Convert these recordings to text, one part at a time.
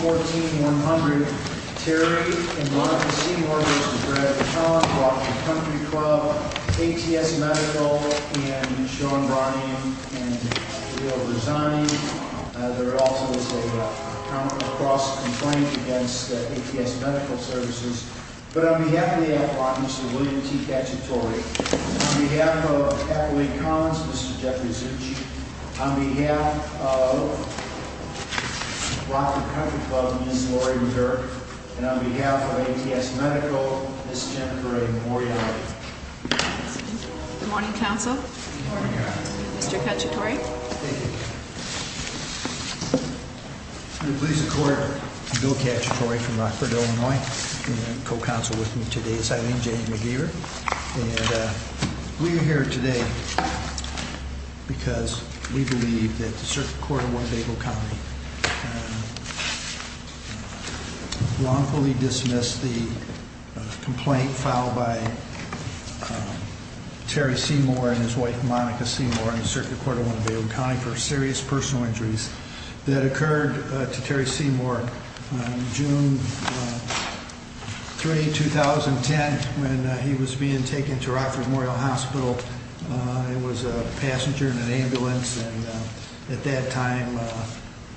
214-100 Terry v. Seymour v. Gregg Collins, Washington Country Club, ATS Medical, Sean v. William T. Cacciatore. On behalf of ATS Medical, Ms. Jennifer A. Moriarty. Good morning, Counsel. Good morning, Your Honor. Mr. Cacciatore. Thank you. I'm the police of court, Bill Cacciatore from Rockford, Illinois. And my co-counsel with me today is Eileen J. McGeever. And we are here today because we believe that the Circuit Court of Winnebago County wrongfully dismissed the complaint filed by Terry Seymour and his wife, Monica Seymour, in the Circuit Court of Winnebago County for serious personal injuries that occurred to Terry Seymour on June 3, 2010 when he was being taken to Rockford Memorial Hospital. It was a passenger in an ambulance, and at that time,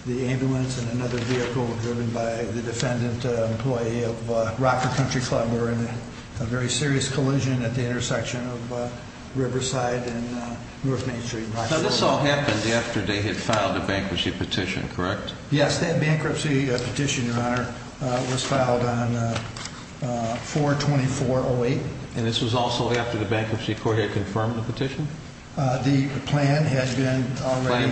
the ambulance and another vehicle were driven by the defendant, an employee of Rockford Country Club, were in a very serious collision at the intersection of Riverside and North Main Street. Now, this all happened after they had filed a bankruptcy petition, correct? Yes, that bankruptcy petition, Your Honor, was filed on 4-24-08. And this was also after the Bankruptcy Court had confirmed the petition? The plan had been already...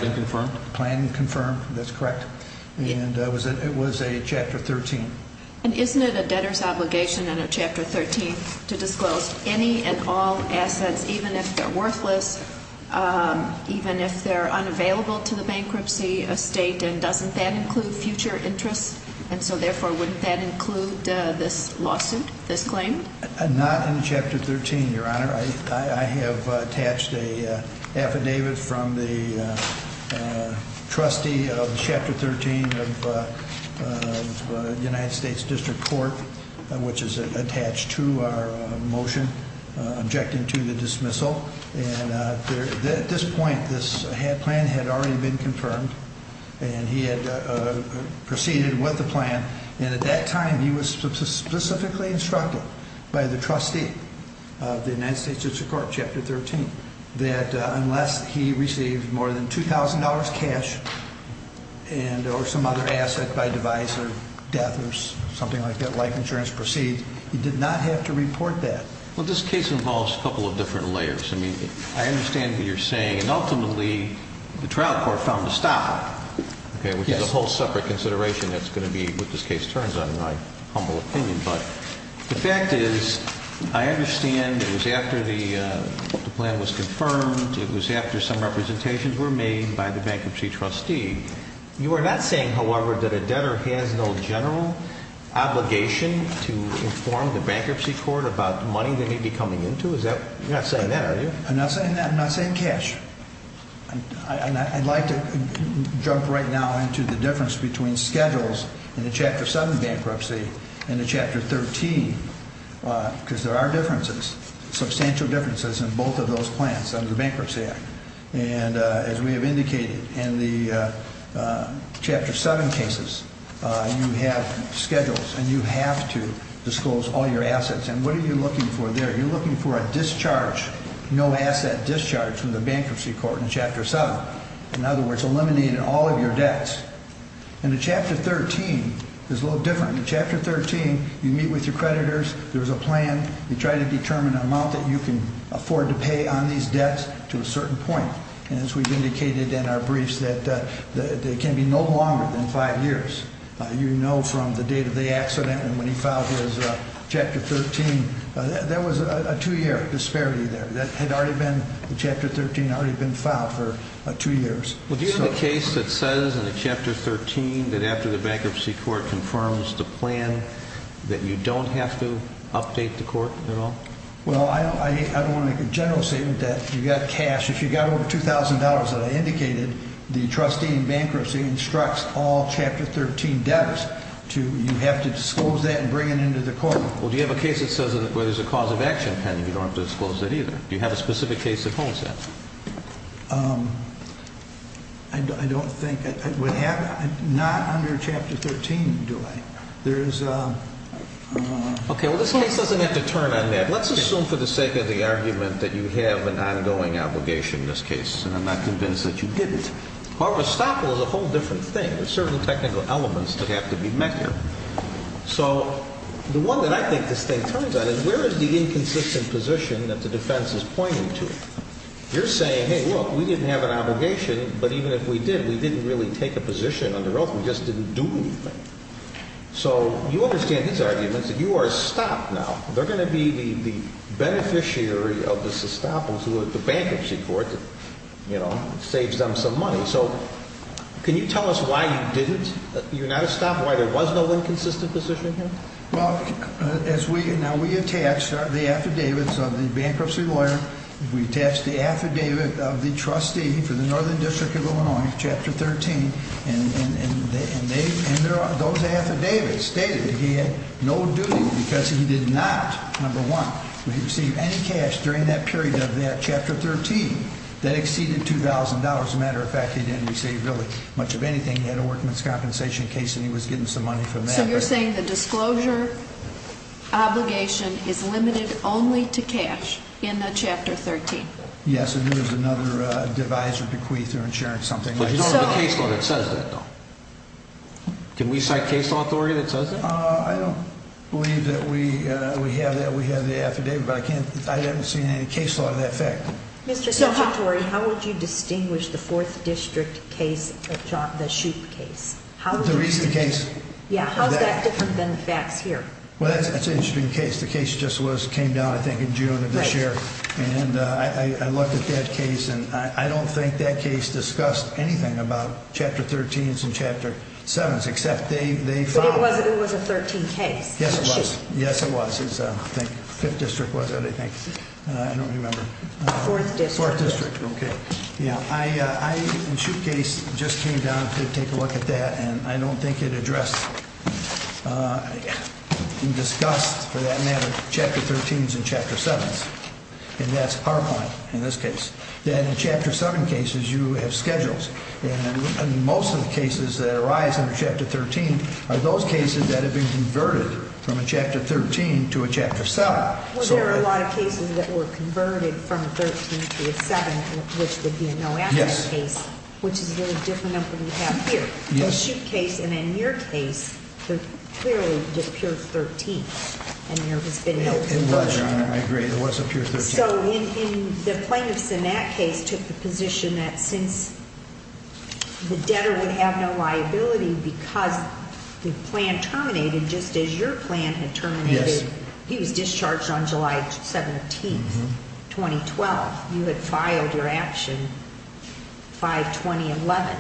Even if they're unavailable to the bankruptcy state, and doesn't that include future interests? And so, therefore, wouldn't that include this lawsuit, this claim? Not in Chapter 13, Your Honor. I have attached an affidavit from the trustee of Chapter 13 of the United States District Court, which is attached to our motion objecting to the dismissal. And at this point, this plan had already been confirmed, and he had proceeded with the plan. And at that time, he was specifically instructed by the trustee of the United States District Court, Chapter 13, that unless he received more than $2,000 cash or some other asset by device or death or something like that, like insurance proceeds, he did not have to report that. Well, this case involves a couple of different layers. I mean, I understand what you're saying. And ultimately, the trial court found a stopper, which is a whole separate consideration that's going to be what this case turns on, in my humble opinion. But the fact is, I understand it was after the plan was confirmed, it was after some representations were made by the bankruptcy trustee. You are not saying, however, that a debtor has no general obligation to inform the bankruptcy court about money that may be coming into? You're not saying that, are you? I'm not saying that. I'm not saying cash. And I'd like to jump right now into the difference between schedules in the Chapter 7 bankruptcy and the Chapter 13, because there are differences, substantial differences in both of those plans under the Bankruptcy Act. And as we have indicated, in the Chapter 7 cases, you have schedules, and you have to disclose all your assets. And what are you looking for there? You're looking for a discharge, no-asset discharge from the bankruptcy court in Chapter 7. In other words, eliminating all of your debts. In the Chapter 13, it's a little different. In the Chapter 13, you meet with your creditors, there's a plan, you try to determine an amount that you can afford to pay on these debts to a certain point. And as we've indicated in our briefs, that it can be no longer than five years. You know from the date of the accident and when he filed his Chapter 13, there was a two-year disparity there. The Chapter 13 had already been filed for two years. Well, do you have a case that says in the Chapter 13 that after the bankruptcy court confirms the plan that you don't have to update the court at all? Well, I don't want to make a general statement that you've got cash. If you've got over $2,000, as I indicated, the trustee in bankruptcy instructs all Chapter 13 debtors to, you have to disclose that and bring it into the court. Well, do you have a case that says where there's a cause of action pending, you don't have to disclose that either? Do you have a specific case that holds that? I don't think I would have, not under Chapter 13, do I? There's a... Okay, well this case doesn't have to turn on that. Let's assume for the sake of the argument that you have an ongoing obligation in this case, and I'm not convinced that you didn't. However, estoppel is a whole different thing. There's certain technical elements that have to be met here. So the one that I think this thing turns on is where is the inconsistent position that the defense is pointing to? You're saying, hey, look, we didn't have an obligation, but even if we did, we didn't really take a position under oath. We just didn't do anything. So you understand these arguments that you are stopped now. They're going to be the beneficiary of this estoppel to the bankruptcy court, you know, saves them some money. So can you tell us why you didn't, you're not a stop, why there was no inconsistent position here? Well, as we, now we attached the affidavits of the bankruptcy lawyer. We attached the affidavit of the trustee for the Northern District of Illinois, Chapter 13, and those affidavits stated that he had no duty because he did not, number one, receive any cash during that period of that Chapter 13 that exceeded $2,000. As a matter of fact, he didn't receive really much of anything. He had a workman's compensation case and he was getting some money from that. So you're saying the disclosure obligation is limited only to cash in the Chapter 13? Yes. And there was another divisor decree through insurance, something like that. But you don't have a case law that says that, though. Can we cite case law, Tori, that says that? I don't believe that we have that. We have the affidavit, but I can't, I haven't seen any case law to that effect. Mr. Tori, how would you distinguish the Fourth District case, the Shupe case? The recent case? Yeah. How's that different than the facts here? Well, that's an interesting case. The case just came down, I think, in June of this year. And I looked at that case and I don't think that case discussed anything about Chapter 13s and Chapter 7s, except they found... But it was a 13 case. Yes, it was. Yes, it was. I think Fifth District was it, I think. I don't remember. Fourth District. I, in the Shupe case, just came down to take a look at that and I don't think it addressed, discussed, for that matter, Chapter 13s and Chapter 7s. And that's PowerPoint, in this case. Then in Chapter 7 cases, you have schedules. And most of the cases that arise under Chapter 13 are those cases that have been converted from a Chapter 13 to a Chapter 7. Well, there are a lot of cases that were converted from a 13 to a 7, which would be a no-action case, which is a very different number than we have here. The Shupe case and then your case, they're clearly just pure 13s and there has been no conversion. It was, Your Honor. I agree. It was a pure 13. So, the plaintiffs in that case took the position that since the debtor would have no liability because the plan terminated just as your plan had terminated. Yes. He was discharged on July 17, 2012. You had filed your action by 2011.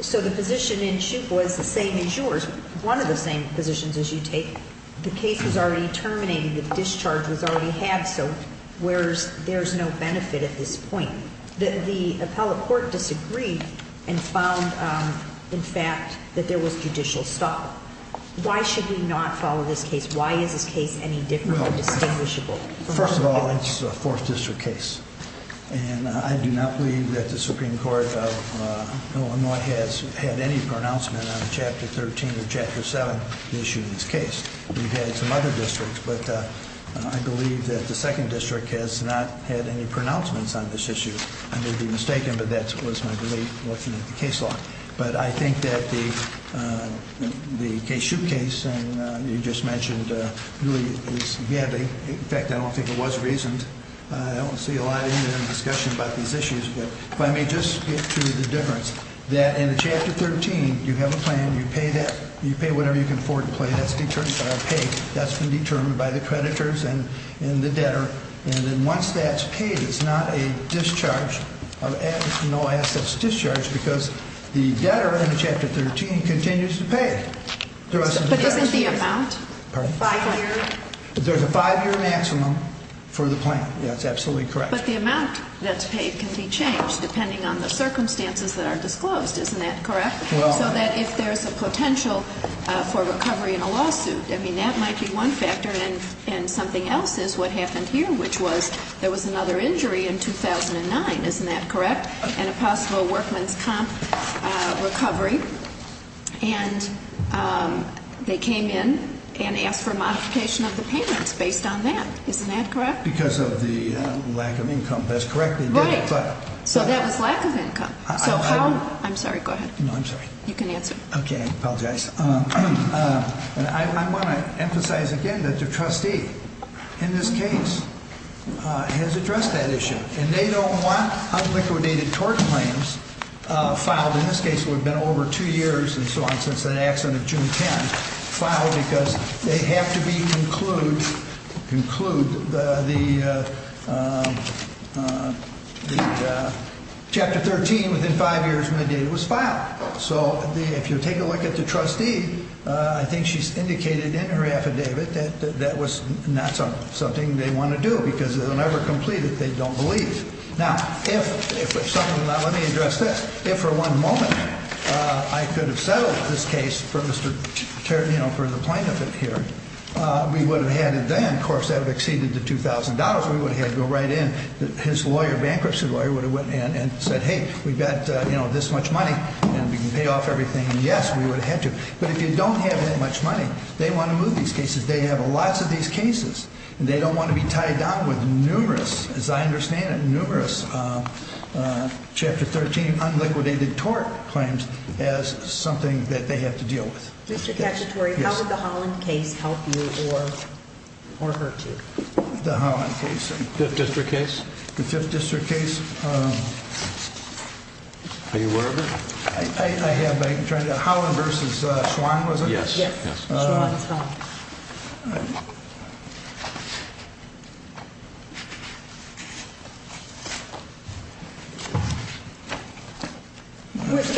So, the position in Shupe was the same as yours, one of the same positions as you take. The case was already terminated. The discharge was already had, so there's no benefit at this point. The appellate court disagreed and found, in fact, that there was judicial stop. Why should we not follow this case? Why is this case any different or distinguishable? First of all, it's a Fourth District case. And I do not believe that the Supreme Court has had any pronouncement on Chapter 13 or Chapter 7 issued in this case. We've had some other districts, but I believe that the Second District has not had any pronouncements on this issue. I may be mistaken, but that was my belief looking at the case law. But I think that the Shupe case, and you just mentioned, really is, in fact, I don't think it was reasoned. I don't see a lot in the discussion about these issues, but let me just get to the difference. That in Chapter 13, you have a plan. You pay whatever you can afford to pay. That's been determined by the creditors and the debtor. And then once that's paid, it's not a discharge of assets. No assets discharged because the debtor in Chapter 13 continues to pay the rest of the debtors. But isn't the amount five years? There's a five-year maximum for the plan. That's absolutely correct. But the amount that's paid can be changed depending on the circumstances that are disclosed. Isn't that correct? So that if there's a potential for recovery in a lawsuit, I mean, that might be one factor. And something else is what happened here, which was there was another injury in 2009. Isn't that correct? And a possible workman's comp recovery. And they came in and asked for a modification of the payments based on that. Isn't that correct? Because of the lack of income. That's correct. Right. So that was lack of income. I'm sorry. Go ahead. No, I'm sorry. You can answer. Okay. I apologize. I want to emphasize again that the trustee in this case has addressed that issue. And they don't want unliquidated tort claims filed in this case. It would have been over two years and so on since that accident of June 10th filed because they have to conclude the chapter 13 within five years from the date it was filed. So if you take a look at the trustee, I think she's indicated in her affidavit that that was not something they want to do because they'll never complete it. They don't believe. Now, let me address this. If for one moment I could have settled this case for the plaintiff here, we would have had it then. Of course, that would have exceeded the $2,000 we would have had to go right in. His bankruptcy lawyer would have went in and said, hey, we've got this much money and we can pay off everything. And yes, we would have had to. But if you don't have that much money, they want to move these cases. They have lots of these cases. And they don't want to be tied down with numerous, as I understand it, numerous chapter 13 unliquidated tort claims as something that they have to deal with. Mr. Cacciatore, how would the Holland case help you or hurt you? The Holland case. The 5th District case? The 5th District case. Are you aware of it? I have. Holland versus Schwann, was it? Yes. Schwann's home.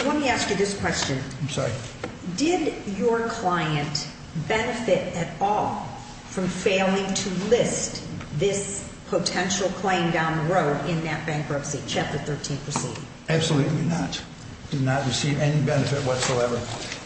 Let me ask you this question. I'm sorry. Did your client benefit at all from failing to list this potential claim down the road in that bankruptcy chapter 13 proceeding? Absolutely not. Did not receive any benefit whatsoever.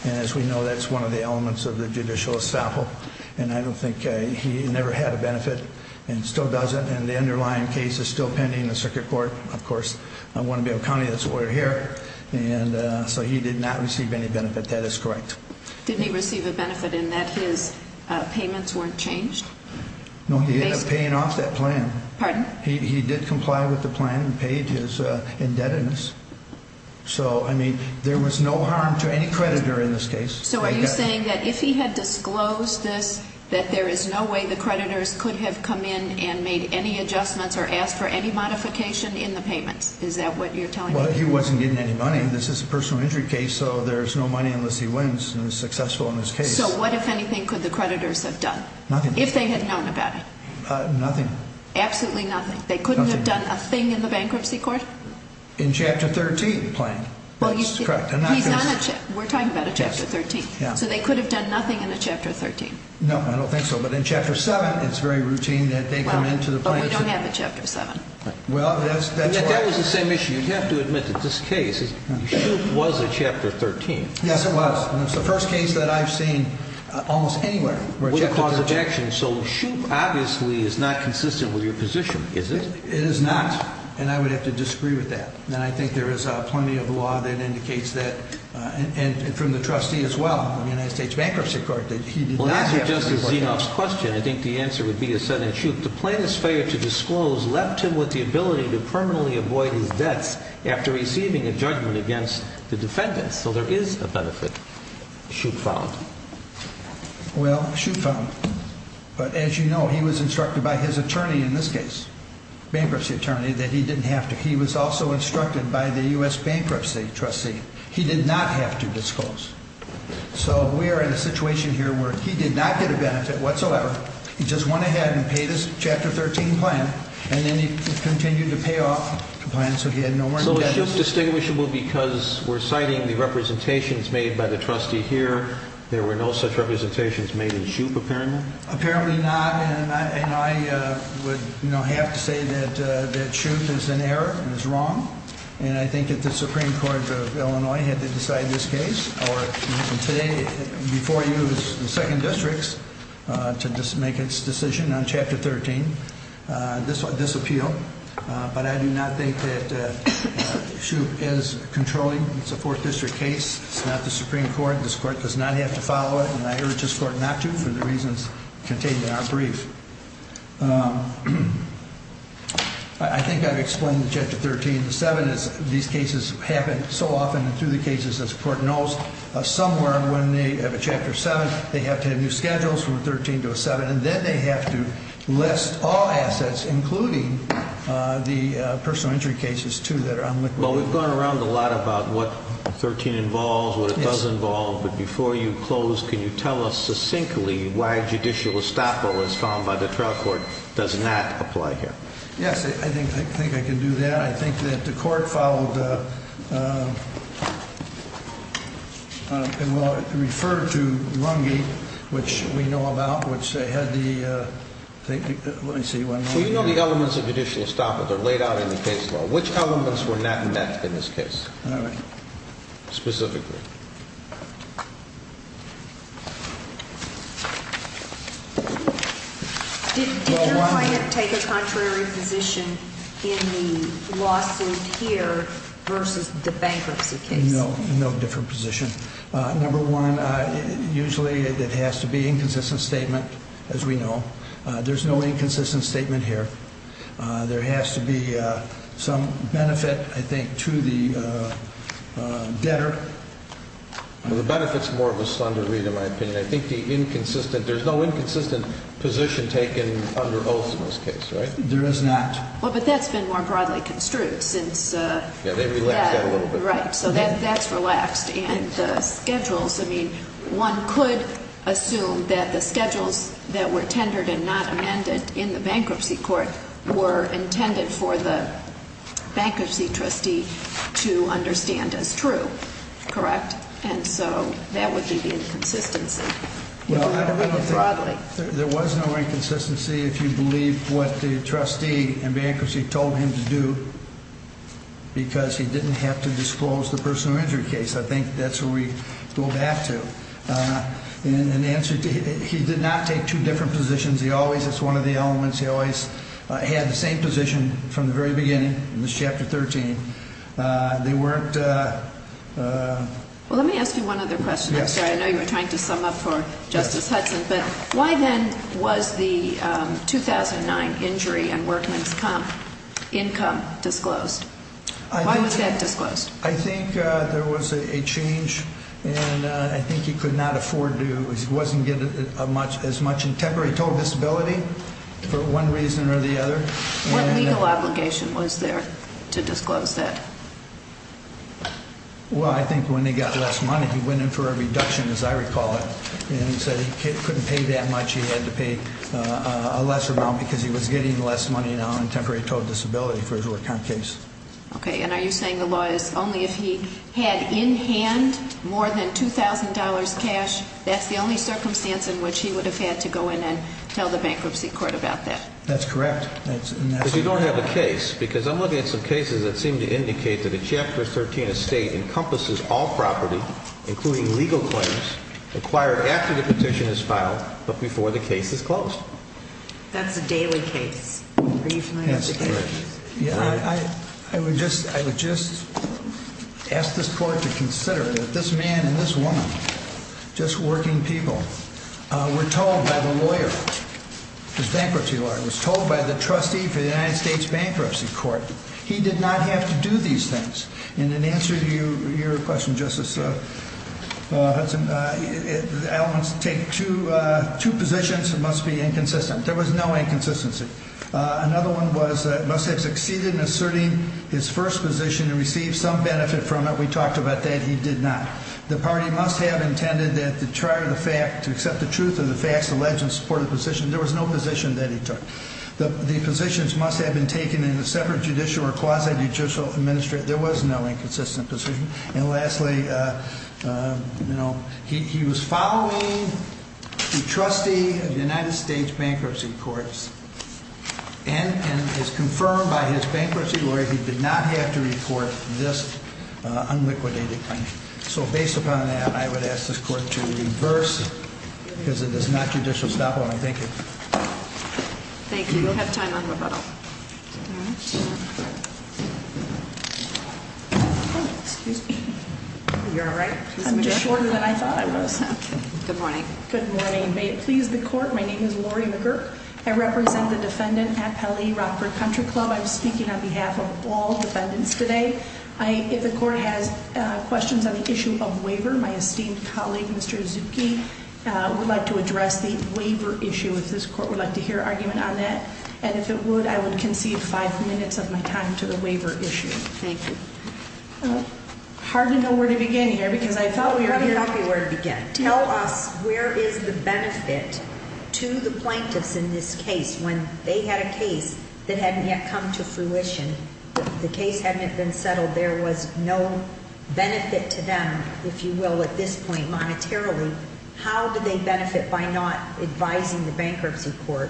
And as we know, that's one of the elements of the judicial establishment. And I don't think he never had a benefit and still doesn't. And the underlying case is still pending in the circuit court. Of course, I want to be able to count it as we're here. And so he did not receive any benefit. That is correct. Did he receive a benefit in that his payments weren't changed? No, he ended up paying off that plan. Pardon? He did comply with the plan and paid his indebtedness. So, I mean, there was no harm to any creditor in this case. So are you saying that if he had disclosed this, that there is no way the creditors could have come in and made any adjustments or asked for any modification in the payments? Is that what you're telling me? Well, he wasn't getting any money. This is a personal injury case, so there's no money unless he wins and is successful in this case. So what, if anything, could the creditors have done? Nothing. If they had known about it? Nothing. Absolutely nothing? Nothing. They couldn't have done a thing in the bankruptcy court? In Chapter 13, the plan. That's correct. We're talking about a Chapter 13. So they could have done nothing in a Chapter 13? No, I don't think so. But in Chapter 7, it's very routine that they come into the plan. But we don't have a Chapter 7. Well, that's why. That was the same issue. You have to admit that this case, Shoup was a Chapter 13. Yes, it was. And it's the first case that I've seen almost anywhere where a Chapter 13. So Shoup obviously is not consistent with your position, is it? It is not. And I would have to disagree with that. And I think there is plenty of law that indicates that, and from the trustee as well, the United States Bankruptcy Court, that he did not have to report that. Well, to answer Justice Zinoff's question, I think the answer would be as said in Shoup, the plaintiff's failure to disclose left him with the ability to permanently avoid his debts after receiving a judgment against the defendants. So there is a benefit, Shoup found. Well, Shoup found. But as you know, he was instructed by his attorney in this case, bankruptcy attorney, that he didn't have to. He was also instructed by the U.S. bankruptcy trustee. He did not have to disclose. So we are in a situation here where he did not get a benefit whatsoever. He just went ahead and paid his Chapter 13 plan, and then he continued to pay off the plan so he had nowhere to get it. So is Shoup distinguishable because we're citing the representations made by the trustee here? There were no such representations made in Shoup, apparently? Apparently not. And I would have to say that Shoup is in error and is wrong. And I think that the Supreme Court of Illinois had to decide this case. Today, before you, it was the Second Districts to make its decision on Chapter 13, this appeal. But I do not think that Shoup is controlling. It's a Fourth District case. It's not the Supreme Court. This court does not have to follow it, and I urge this court not to for the reasons contained in our brief. I think I've explained the Chapter 13. The 7 is these cases happen so often and through the cases, as the court knows, somewhere when they have a Chapter 7, they have to have new schedules from a 13 to a 7, and then they have to list all assets, including the personal injury cases, too, that are on liquid. Well, we've gone around a lot about what 13 involves, what it does involve. But before you close, can you tell us succinctly why judicial estoppel, as found by the trial court, does not apply here? Yes, I think I can do that. I think that the court followed the – referred to Lungi, which we know about, which had the – let me see. Well, you know the elements of judicial estoppel. They're laid out in the case law. Which elements were not met in this case specifically? Did your client take a contrary position in the lawsuit here versus the bankruptcy case? No, no different position. Number one, usually it has to be inconsistent statement, as we know. There's no inconsistent statement here. There has to be some benefit, I think, to the debtor. Well, the benefit's more of a slender read, in my opinion. I think the inconsistent – there's no inconsistent position taken under oath in this case, right? There is not. Well, but that's been more broadly construed since – Yeah, they relaxed that a little bit. Right. So that's relaxed. I mean, one could assume that the schedules that were tendered and not amended in the bankruptcy court were intended for the bankruptcy trustee to understand as true, correct? And so that would be the inconsistency, broadly. There was no inconsistency if you believe what the trustee in bankruptcy told him to do because he didn't have to disclose the personal injury case. I think that's where we go back to. In answer to – he did not take two different positions. He always – that's one of the elements. He always had the same position from the very beginning in this Chapter 13. They weren't – Well, let me ask you one other question. I'm sorry. I know you were trying to sum up for Justice Hudson. But why then was the 2009 injury and workman's income disclosed? Why was that disclosed? I think there was a change, and I think he could not afford to – he wasn't getting as much in temporary total disability for one reason or the other. What legal obligation was there to disclose that? Well, I think when he got less money, he went in for a reduction, as I recall it, and he said he couldn't pay that much. He had to pay a lesser amount because he was getting less money now in temporary total disability for his workman case. Okay. And are you saying the law is only if he had in hand more than $2,000 cash, that's the only circumstance in which he would have had to go in and tell the bankruptcy court about that? That's correct. But you don't have a case because I'm looking at some cases that seem to indicate that a Chapter 13 estate encompasses all property, including legal claims, acquired after the petition is filed but before the case is closed. That's a daily case. Are you familiar with the case? I would just ask this court to consider that this man and this woman, just working people, were told by the lawyer, his bankruptcy lawyer, was told by the trustee for the United States Bankruptcy Court. He did not have to do these things. And in answer to your question, Justice Hudson, the elements take two positions that must be inconsistent. There was no inconsistency. Another one was that he must have succeeded in asserting his first position and received some benefit from it. We talked about that. He did not. The party must have intended to accept the truth of the facts alleged in support of the position. There was no position that he took. The positions must have been taken in a separate judicial or quasi-judicial administration. There was no inconsistent position. And lastly, he was following the trustee of the United States Bankruptcy Courts and it's confirmed by his bankruptcy lawyer he did not have to report this unliquidated claim. So based upon that, I would ask this court to reverse, because it is not judicial stop on it. Thank you. Thank you. We'll have time on rebuttal. Excuse me. Are you all right? I'm just shorter than I thought I was. Good morning. Good morning. May it please the court, my name is Lori McGurk. I represent the defendant at Pele Rockford Country Club. I'm speaking on behalf of all defendants today. If the court has questions on the issue of waiver, my esteemed colleague, Mr. Zupke, would like to address the waiver issue if this court would like to hear argument on that. And if it would, I would concede five minutes of my time to the waiver issue. Thank you. Hard to know where to begin here because I thought we were here. Tell me where to begin. Tell us where is the benefit to the plaintiffs in this case when they had a case that hadn't yet come to fruition. The case hadn't yet been settled. There was no benefit to them, if you will, at this point monetarily. How did they benefit by not advising the bankruptcy court?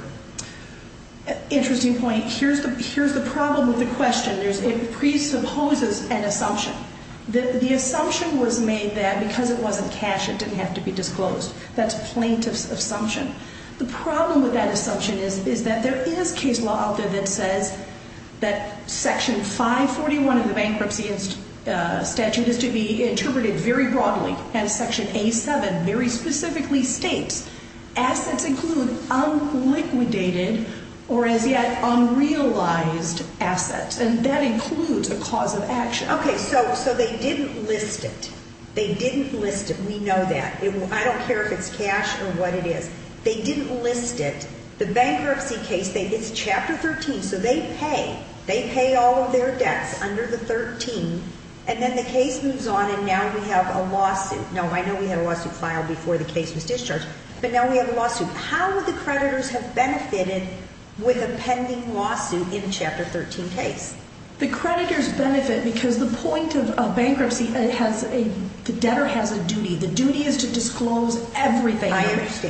Interesting point. Here's the problem with the question. It presupposes an assumption. The assumption was made that because it wasn't cash, it didn't have to be disclosed. That's plaintiff's assumption. The problem with that assumption is that there is case law out there that says that Section 541 of the bankruptcy statute is to be interpreted very broadly as Section A7 very specifically states, assets include unliquidated or as yet unrealized assets, and that includes a cause of action. Okay, so they didn't list it. They didn't list it. We know that. I don't care if it's cash or what it is. They didn't list it. The bankruptcy case, it's Chapter 13, so they pay. They pay all of their debts under the 13, and then the case moves on, and now we have a lawsuit. Now, I know we had a lawsuit filed before the case was discharged, but now we have a lawsuit. How would the creditors have benefited with a pending lawsuit in the Chapter 13 case? The creditors benefit because the point of bankruptcy has a debtor has a duty. The duty is to disclose everything,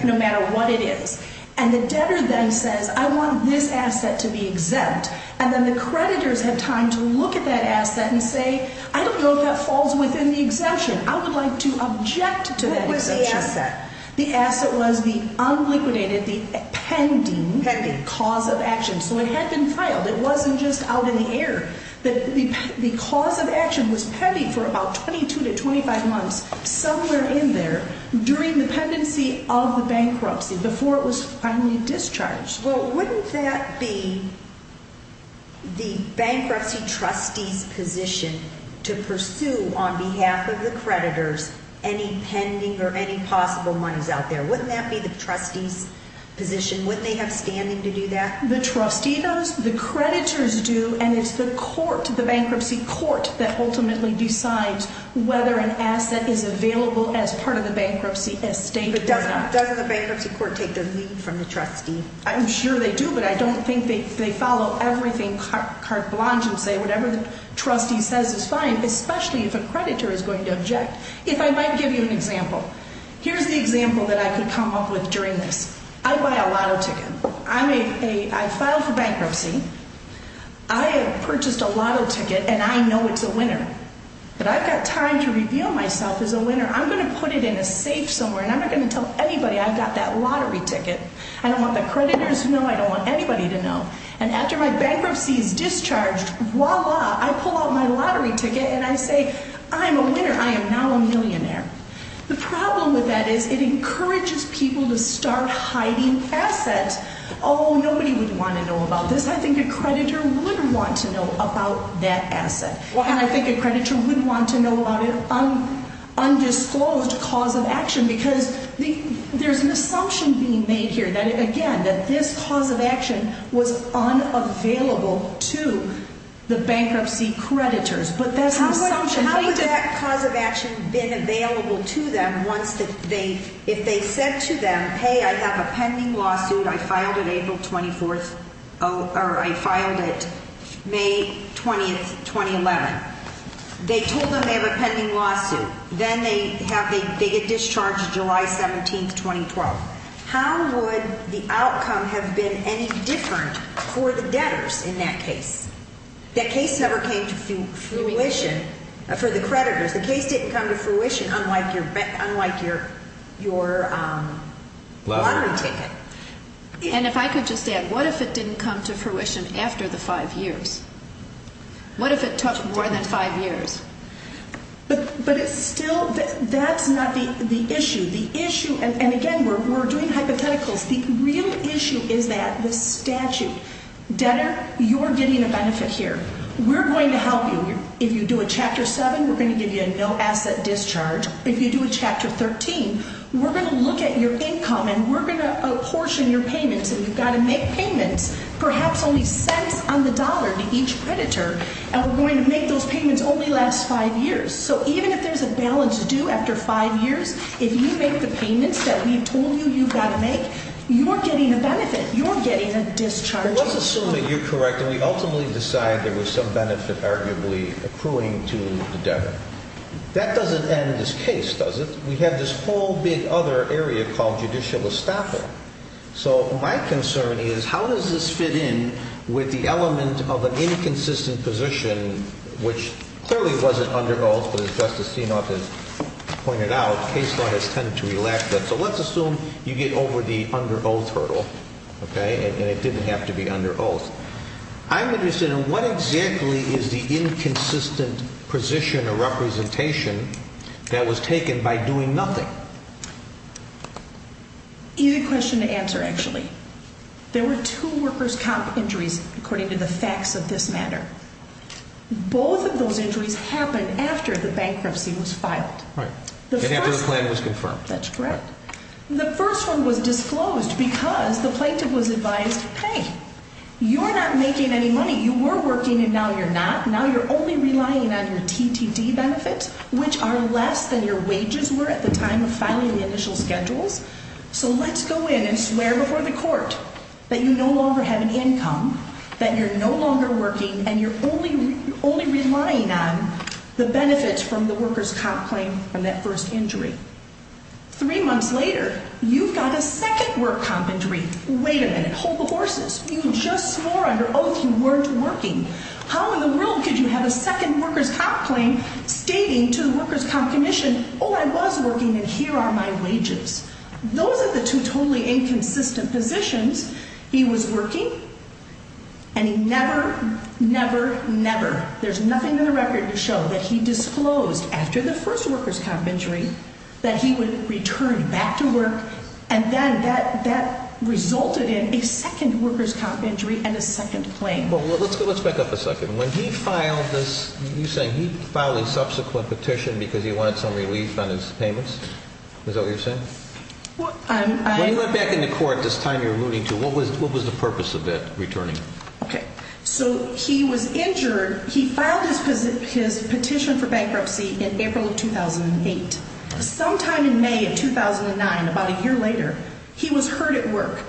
no matter what it is, and the debtor then says, I want this asset to be exempt, and then the creditors have time to look at that asset and say, I don't know if that falls within the exemption. I would like to object to that exemption. What was the asset? The asset was the unliquidated, the pending cause of action. So it had been filed. It wasn't just out in the air. The cause of action was pending for about 22 to 25 months, somewhere in there, during the pendency of the bankruptcy, before it was finally discharged. Well, wouldn't that be the bankruptcy trustee's position to pursue, on behalf of the creditors, any pending or any possible monies out there? Wouldn't that be the trustee's position? Wouldn't they have standing to do that? The trustee does, the creditors do, and it's the court, the bankruptcy court, that ultimately decides whether an asset is available as part of the bankruptcy estate or not. Doesn't the bankruptcy court take the lead from the trustee? I'm sure they do, but I don't think they follow everything carte blanche and say whatever the trustee says is fine, especially if a creditor is going to object. If I might give you an example. Here's the example that I could come up with during this. I buy a lotto ticket. I file for bankruptcy. I have purchased a lotto ticket, and I know it's a winner. But I've got time to reveal myself as a winner. I'm going to put it in a safe somewhere, and I'm not going to tell anybody I've got that lottery ticket. I don't want the creditors to know. I don't want anybody to know. And after my bankruptcy is discharged, voila, I pull out my lottery ticket, and I say I'm a winner. I am now a millionaire. The problem with that is it encourages people to start hiding assets. Oh, nobody would want to know about this. I think a creditor would want to know about that asset. And I think a creditor would want to know about an undisclosed cause of action because there's an assumption being made here, again, that this cause of action was unavailable to the bankruptcy creditors. How would that cause of action have been available to them if they said to them, hey, I have a pending lawsuit. I filed it April 24th, or I filed it May 20th, 2011. They told them they have a pending lawsuit. Then they get discharged July 17th, 2012. How would the outcome have been any different for the debtors in that case? That case never came to fruition for the creditors. The case didn't come to fruition unlike your lottery ticket. And if I could just add, what if it didn't come to fruition after the five years? What if it took more than five years? But it's still, that's not the issue. The issue, and again, we're doing hypotheticals. The real issue is that the statute. Debtor, you're getting a benefit here. We're going to help you. If you do a Chapter 7, we're going to give you a no-asset discharge. If you do a Chapter 13, we're going to look at your income and we're going to apportion your payments. And you've got to make payments, perhaps only cents on the dollar to each creditor. And we're going to make those payments only last five years. So even if there's a balance due after five years, if you make the payments that we've told you you've got to make, you're getting a benefit. You're getting a discharge. Let's assume that you're correct and we ultimately decide there was some benefit, arguably, accruing to the debtor. That doesn't end this case, does it? We have this whole big other area called judicial estafa. So my concern is how does this fit in with the element of an inconsistent position, which clearly wasn't under oath, but as Justice Steenhoff has pointed out, case law has tended to relax that. So let's assume you get over the under oath hurdle, okay, and it didn't have to be under oath. I'm interested in what exactly is the inconsistent position or representation that was taken by doing nothing. Easy question to answer, actually. There were two workers' comp injuries, according to the facts of this matter. Both of those injuries happened after the bankruptcy was filed. Right, and after the plan was confirmed. That's correct. The first one was disclosed because the plaintiff was advised, hey, you're not making any money. You were working and now you're not. Now you're only relying on your TTD benefits, which are less than your wages were at the time of filing the initial schedules. So let's go in and swear before the court that you no longer have an income, that you're no longer working, and you're only relying on the benefits from the workers' comp claim from that first injury. Three months later, you've got a second workers' comp injury. Wait a minute. Hold the horses. You just swore under oath you weren't working. How in the world could you have a second workers' comp claim stating to the workers' comp commission, oh, I was working and here are my wages? Those are the two totally inconsistent positions. He was working and he never, never, never, there's nothing in the record to show that he disclosed after the first workers' comp injury that he would return back to work, and then that resulted in a second workers' comp injury and a second claim. Let's back up a second. When he filed this, you say he filed a subsequent petition because he wanted some relief on his payments? Is that what you're saying? When you went back into court this time you were alluding to, what was the purpose of it, returning? Okay. So he was injured. He filed his petition for bankruptcy in April of 2008. Sometime in May of 2009, about a year later, he was hurt at work.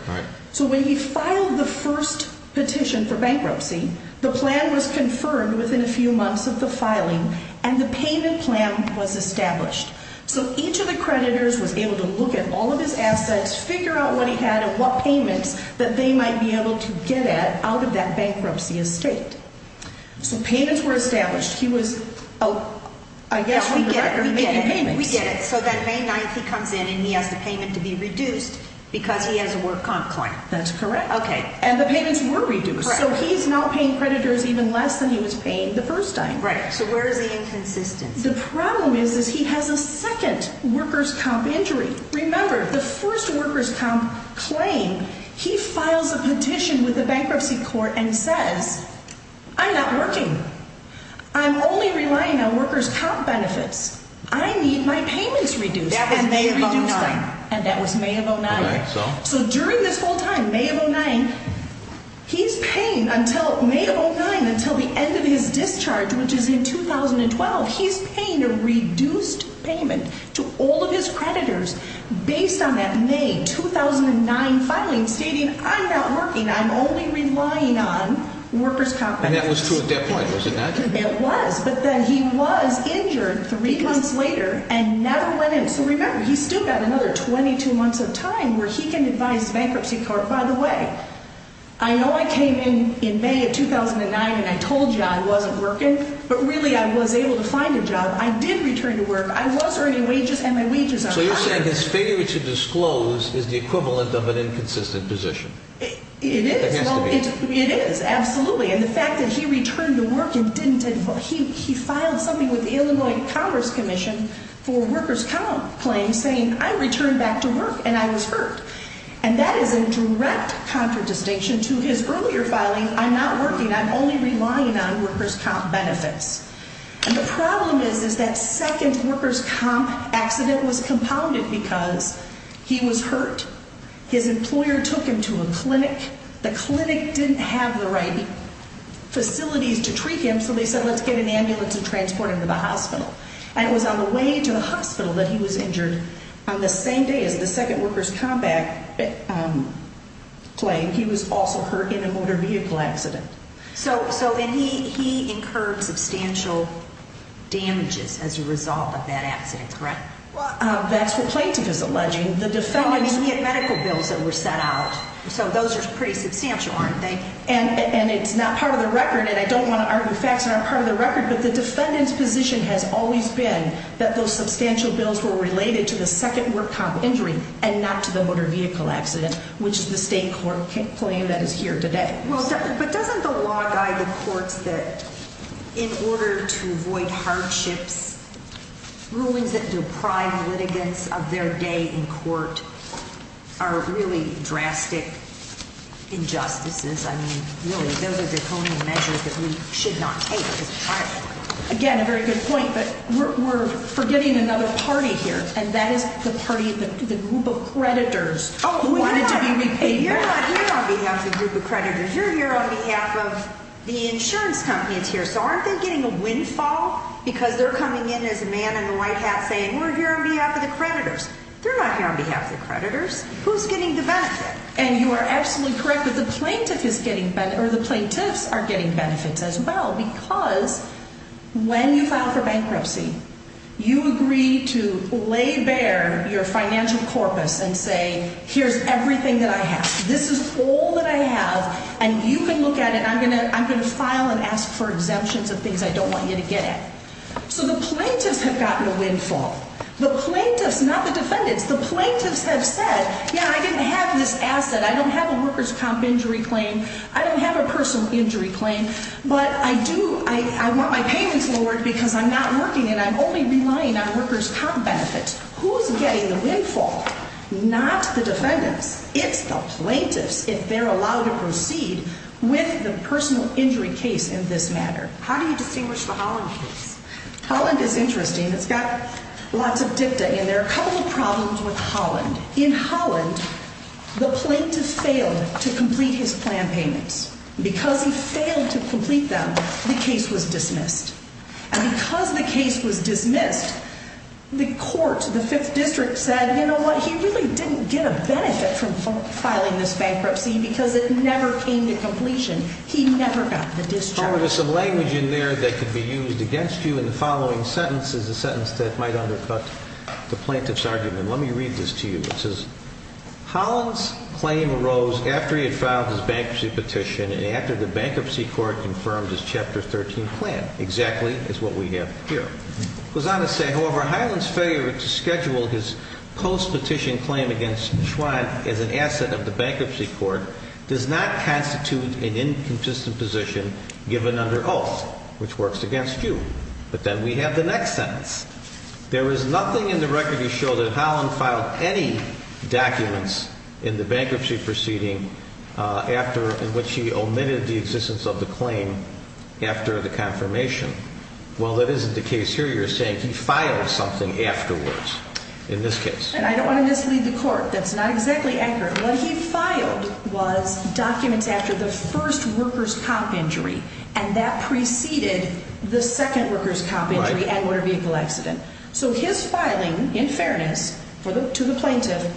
So when he filed the first petition for bankruptcy, the plan was confirmed within a few months of the filing and the payment plan was established. So each of the creditors was able to look at all of his assets, figure out what he had and what payments that they might be able to get at out of that bankruptcy estate. So payments were established. He was out, I guess, on the record making payments. We get it. So then May 9th he comes in and he has the payment to be reduced because he has a work comp claim. That's correct. Okay. And the payments were reduced. Correct. So he's not paying creditors even less than he was paying the first time. Right. So where is the inconsistency? The problem is, is he has a second workers' comp injury. Remember, the first workers' comp claim, he files a petition with the bankruptcy court and says, I'm not working. I'm only relying on workers' comp benefits. I need my payments reduced. That was May of 09. And that was May of 09. So during this whole time, May of 09, he's paying until the end of his discharge, which is in 2012, he's paying a reduced payment to all of his creditors based on that May 2009 filing, stating, I'm not working. I'm only relying on workers' comp benefits. And that was true at that point, was it not? It was. But then he was injured three months later and never went in. So remember, he's still got another 22 months of time where he can advise the bankruptcy court, by the way, I know I came in in May of 2009 and I told you I wasn't working, but really I was able to find a job. I did return to work. I was earning wages and my wages are higher. So you're saying his failure to disclose is the equivalent of an inconsistent position. It is. It has to be. It is, absolutely. And the fact that he returned to work and didn't, he filed something with the Illinois Congress Commission for workers' comp claims saying, I returned back to work and I was hurt. And that is a direct contradistinction to his earlier filing, I'm not working, I'm only relying on workers' comp benefits. And the problem is that second workers' comp accident was compounded because he was hurt. His employer took him to a clinic. The clinic didn't have the right facilities to treat him, so they said let's get an ambulance and transport him to the hospital. And it was on the way to the hospital that he was injured. On the same day as the second workers' comp claim, he was also hurt in a motor vehicle accident. So he incurred substantial damages as a result of that accident, correct? That's what plaintiff is alleging. He had medical bills that were set out, so those are pretty substantial, aren't they? And it's not part of the record, and I don't want to argue facts that aren't part of the record, but the defendant's position has always been that those substantial bills were related to the second workers' comp injury and not to the motor vehicle accident, which is the state court claim that is here today. But doesn't the law guide the courts that in order to avoid hardships, rulings that deprive litigants of their day in court are really drastic injustices? I mean, really, those are draconian measures that we should not take. Again, a very good point, but we're forgetting another party here, and that is the party of the group of creditors who wanted to be repaid back. You're not here on behalf of the group of creditors. You're here on behalf of the insurance companies here. So aren't they getting a windfall because they're coming in as a man in a white hat saying we're here on behalf of the creditors? They're not here on behalf of the creditors. Who's getting the benefit? And you are absolutely correct that the plaintiffs are getting benefits as well because when you file for bankruptcy, you agree to lay bare your financial corpus and say here's everything that I have. This is all that I have, and you can look at it, and I'm going to file and ask for exemptions of things I don't want you to get at. So the plaintiffs have gotten a windfall. The plaintiffs, not the defendants, the plaintiffs have said, yeah, I didn't have this asset. I don't have a workers' comp injury claim. I don't have a personal injury claim. But I do, I want my payments lowered because I'm not working and I'm only relying on workers' comp benefits. Who's getting the windfall? Not the defendants. It's the plaintiffs if they're allowed to proceed with the personal injury case in this matter. How do you distinguish the Holland case? Holland is interesting. It's got lots of dicta in there. A couple of problems with Holland. In Holland, the plaintiff failed to complete his plan payments. Because he failed to complete them, the case was dismissed. And because the case was dismissed, the court, the Fifth District, said, you know what, he really didn't get a benefit from filing this bankruptcy because it never came to completion. He never got the discharge. There's some language in there that could be used against you, and the following sentence is a sentence that might undercut the plaintiff's argument. Let me read this to you. It says, Holland's claim arose after he had filed his bankruptcy petition and after the bankruptcy court confirmed his Chapter 13 plan. Exactly is what we have here. It goes on to say, however, Holland's failure to schedule his post-petition claim against Schwandt as an asset of the bankruptcy court does not constitute an inconsistent position given under oath, which works against you. But then we have the next sentence. There is nothing in the record to show that Holland filed any documents in the bankruptcy proceeding in which he omitted the existence of the claim after the confirmation. Well, that isn't the case here. You're saying he filed something afterwards in this case. And I don't want to mislead the court. That's not exactly accurate. What he filed was documents after the first worker's cop injury, and that preceded the second worker's cop injury and motor vehicle accident. So his filing, in fairness to the plaintiff,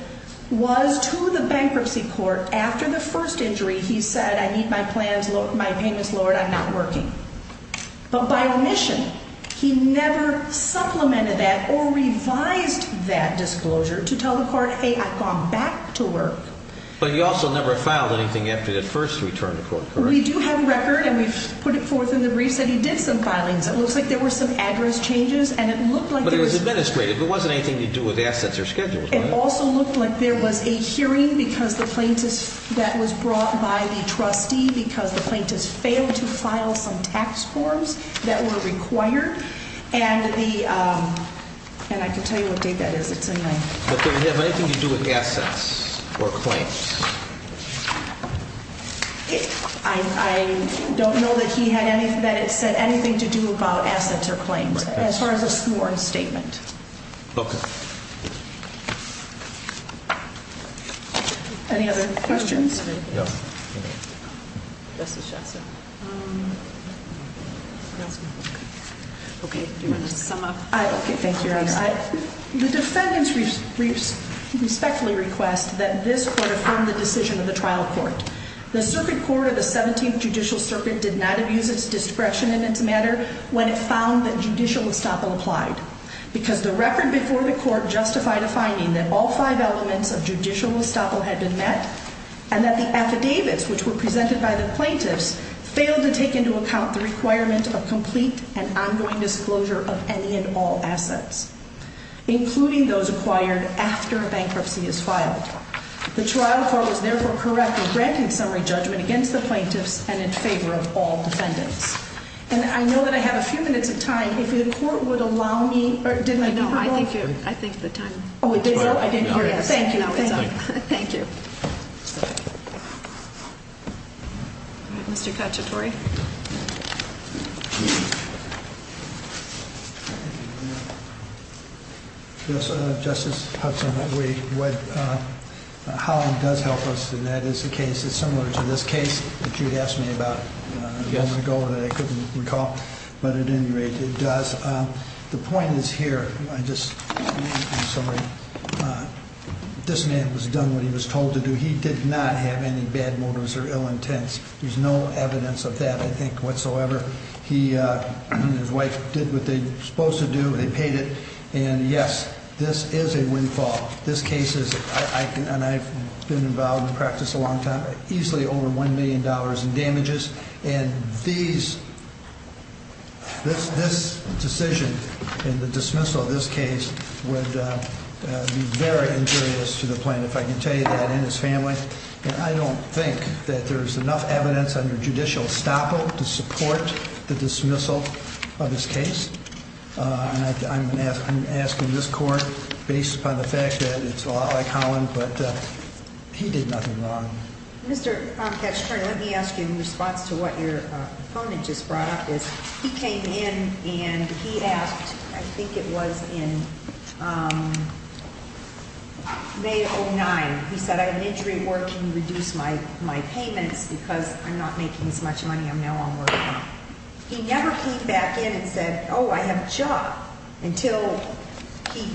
was to the bankruptcy court. After the first injury, he said, I need my payments lowered. I'm not working. But by omission, he never supplemented that or revised that disclosure to tell the court, hey, I've gone back to work. But he also never filed anything after the first return to court, correct? We do have a record, and we've put it forth in the briefs that he did some filings. It looks like there were some address changes. But it was administrated. It wasn't anything to do with assets or schedules, was it? It also looked like there was a hearing that was brought by the trustee because the plaintiff failed to file some tax forms that were required. And I can tell you what date that is. It's in there. But did it have anything to do with assets or claims? I don't know that it said anything to do about assets or claims as far as a sworn statement. Okay. Any other questions? No. Okay. Okay, thank you, Your Honor. The defendants respectfully request that this court affirm the decision of the trial court. The circuit court of the 17th Judicial Circuit did not abuse its discretion in this matter when it found that judicial estoppel applied because the record before the court justified a finding that all five elements of judicial estoppel had been met and that the affidavits which were presented by the plaintiffs failed to take into account the requirement of complete and ongoing disclosure of any and all assets, including those acquired after a bankruptcy is filed. The trial court was therefore correct in granting summary judgment against the plaintiffs and in favor of all defendants. And I know that I have a few minutes of time. If the court would allow me, or didn't I be allowed? No, I think the time is up. Oh, it is up? I didn't hear it. Thank you. Thank you. All right, Mr. Cacciatore. Yes, Justice Hudson. What Holland does help us, and that is a case that's similar to this case that you asked me about a moment ago that I couldn't recall, but at any rate, it does. The point is here. I just, I'm sorry. This man was done what he was told to do. He did not have any bad motives or ill intents. There's no evidence of that, I think, whatsoever. He and his wife did what they were supposed to do. They paid it. And, yes, this is a windfall. This case is, and I've been involved in practice a long time, easily over $1 million in damages. And these, this decision and the dismissal of this case would be very injurious to the plaintiff. I can tell you that and his family. And I don't think that there's enough evidence under judicial estoppel to support the dismissal of this case. And I'm asking this court, based upon the fact that it's a lot like Holland, but he did nothing wrong. Mr. Armpatch Attorney, let me ask you in response to what your opponent just brought up. He came in and he asked, I think it was in May of 2009. He said, I have an injury at work. Can you reduce my payments because I'm not making as much money. I'm now on work time. He never came back in and said, oh, I have a job, until he,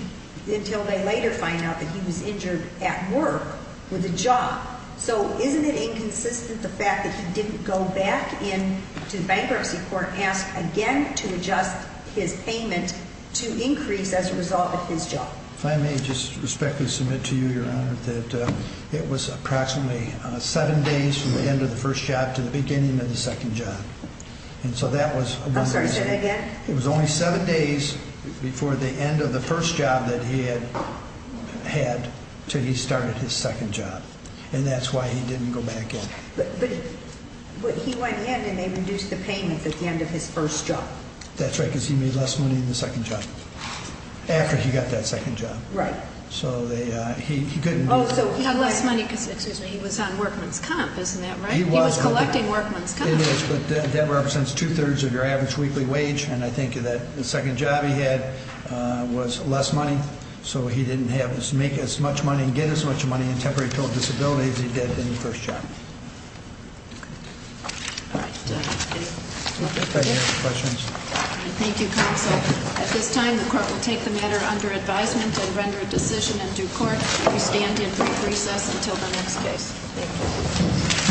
until they later find out that he was injured at work with a job. So isn't it inconsistent the fact that he didn't go back in to bankruptcy court, ask again to adjust his payment to increase as a result of his job. If I may just respectfully submit to you, your honor, that it was approximately seven days from the end of the first job to the beginning of the second job. And so that was. I'm sorry, say that again. It was only seven days before the end of the first job that he had had till he started his second job. And that's why he didn't go back in. But he went in and they reduced the payment at the end of his first job. That's right, because he made less money in the second job. After he got that second job. Right. So he couldn't. Oh, so he had less money because he was on workman's comp, isn't that right? He was collecting workman's comp. It is, but that represents two thirds of your average weekly wage. And I think that the second job he had was less money. So he didn't have to make as much money and get as much money in temporary total disability as he did in the first job. All right. Thank you, counsel. At this time, the court will take the matter under advisement and render a decision in due court. We stand in brief recess until the next case. Thank you.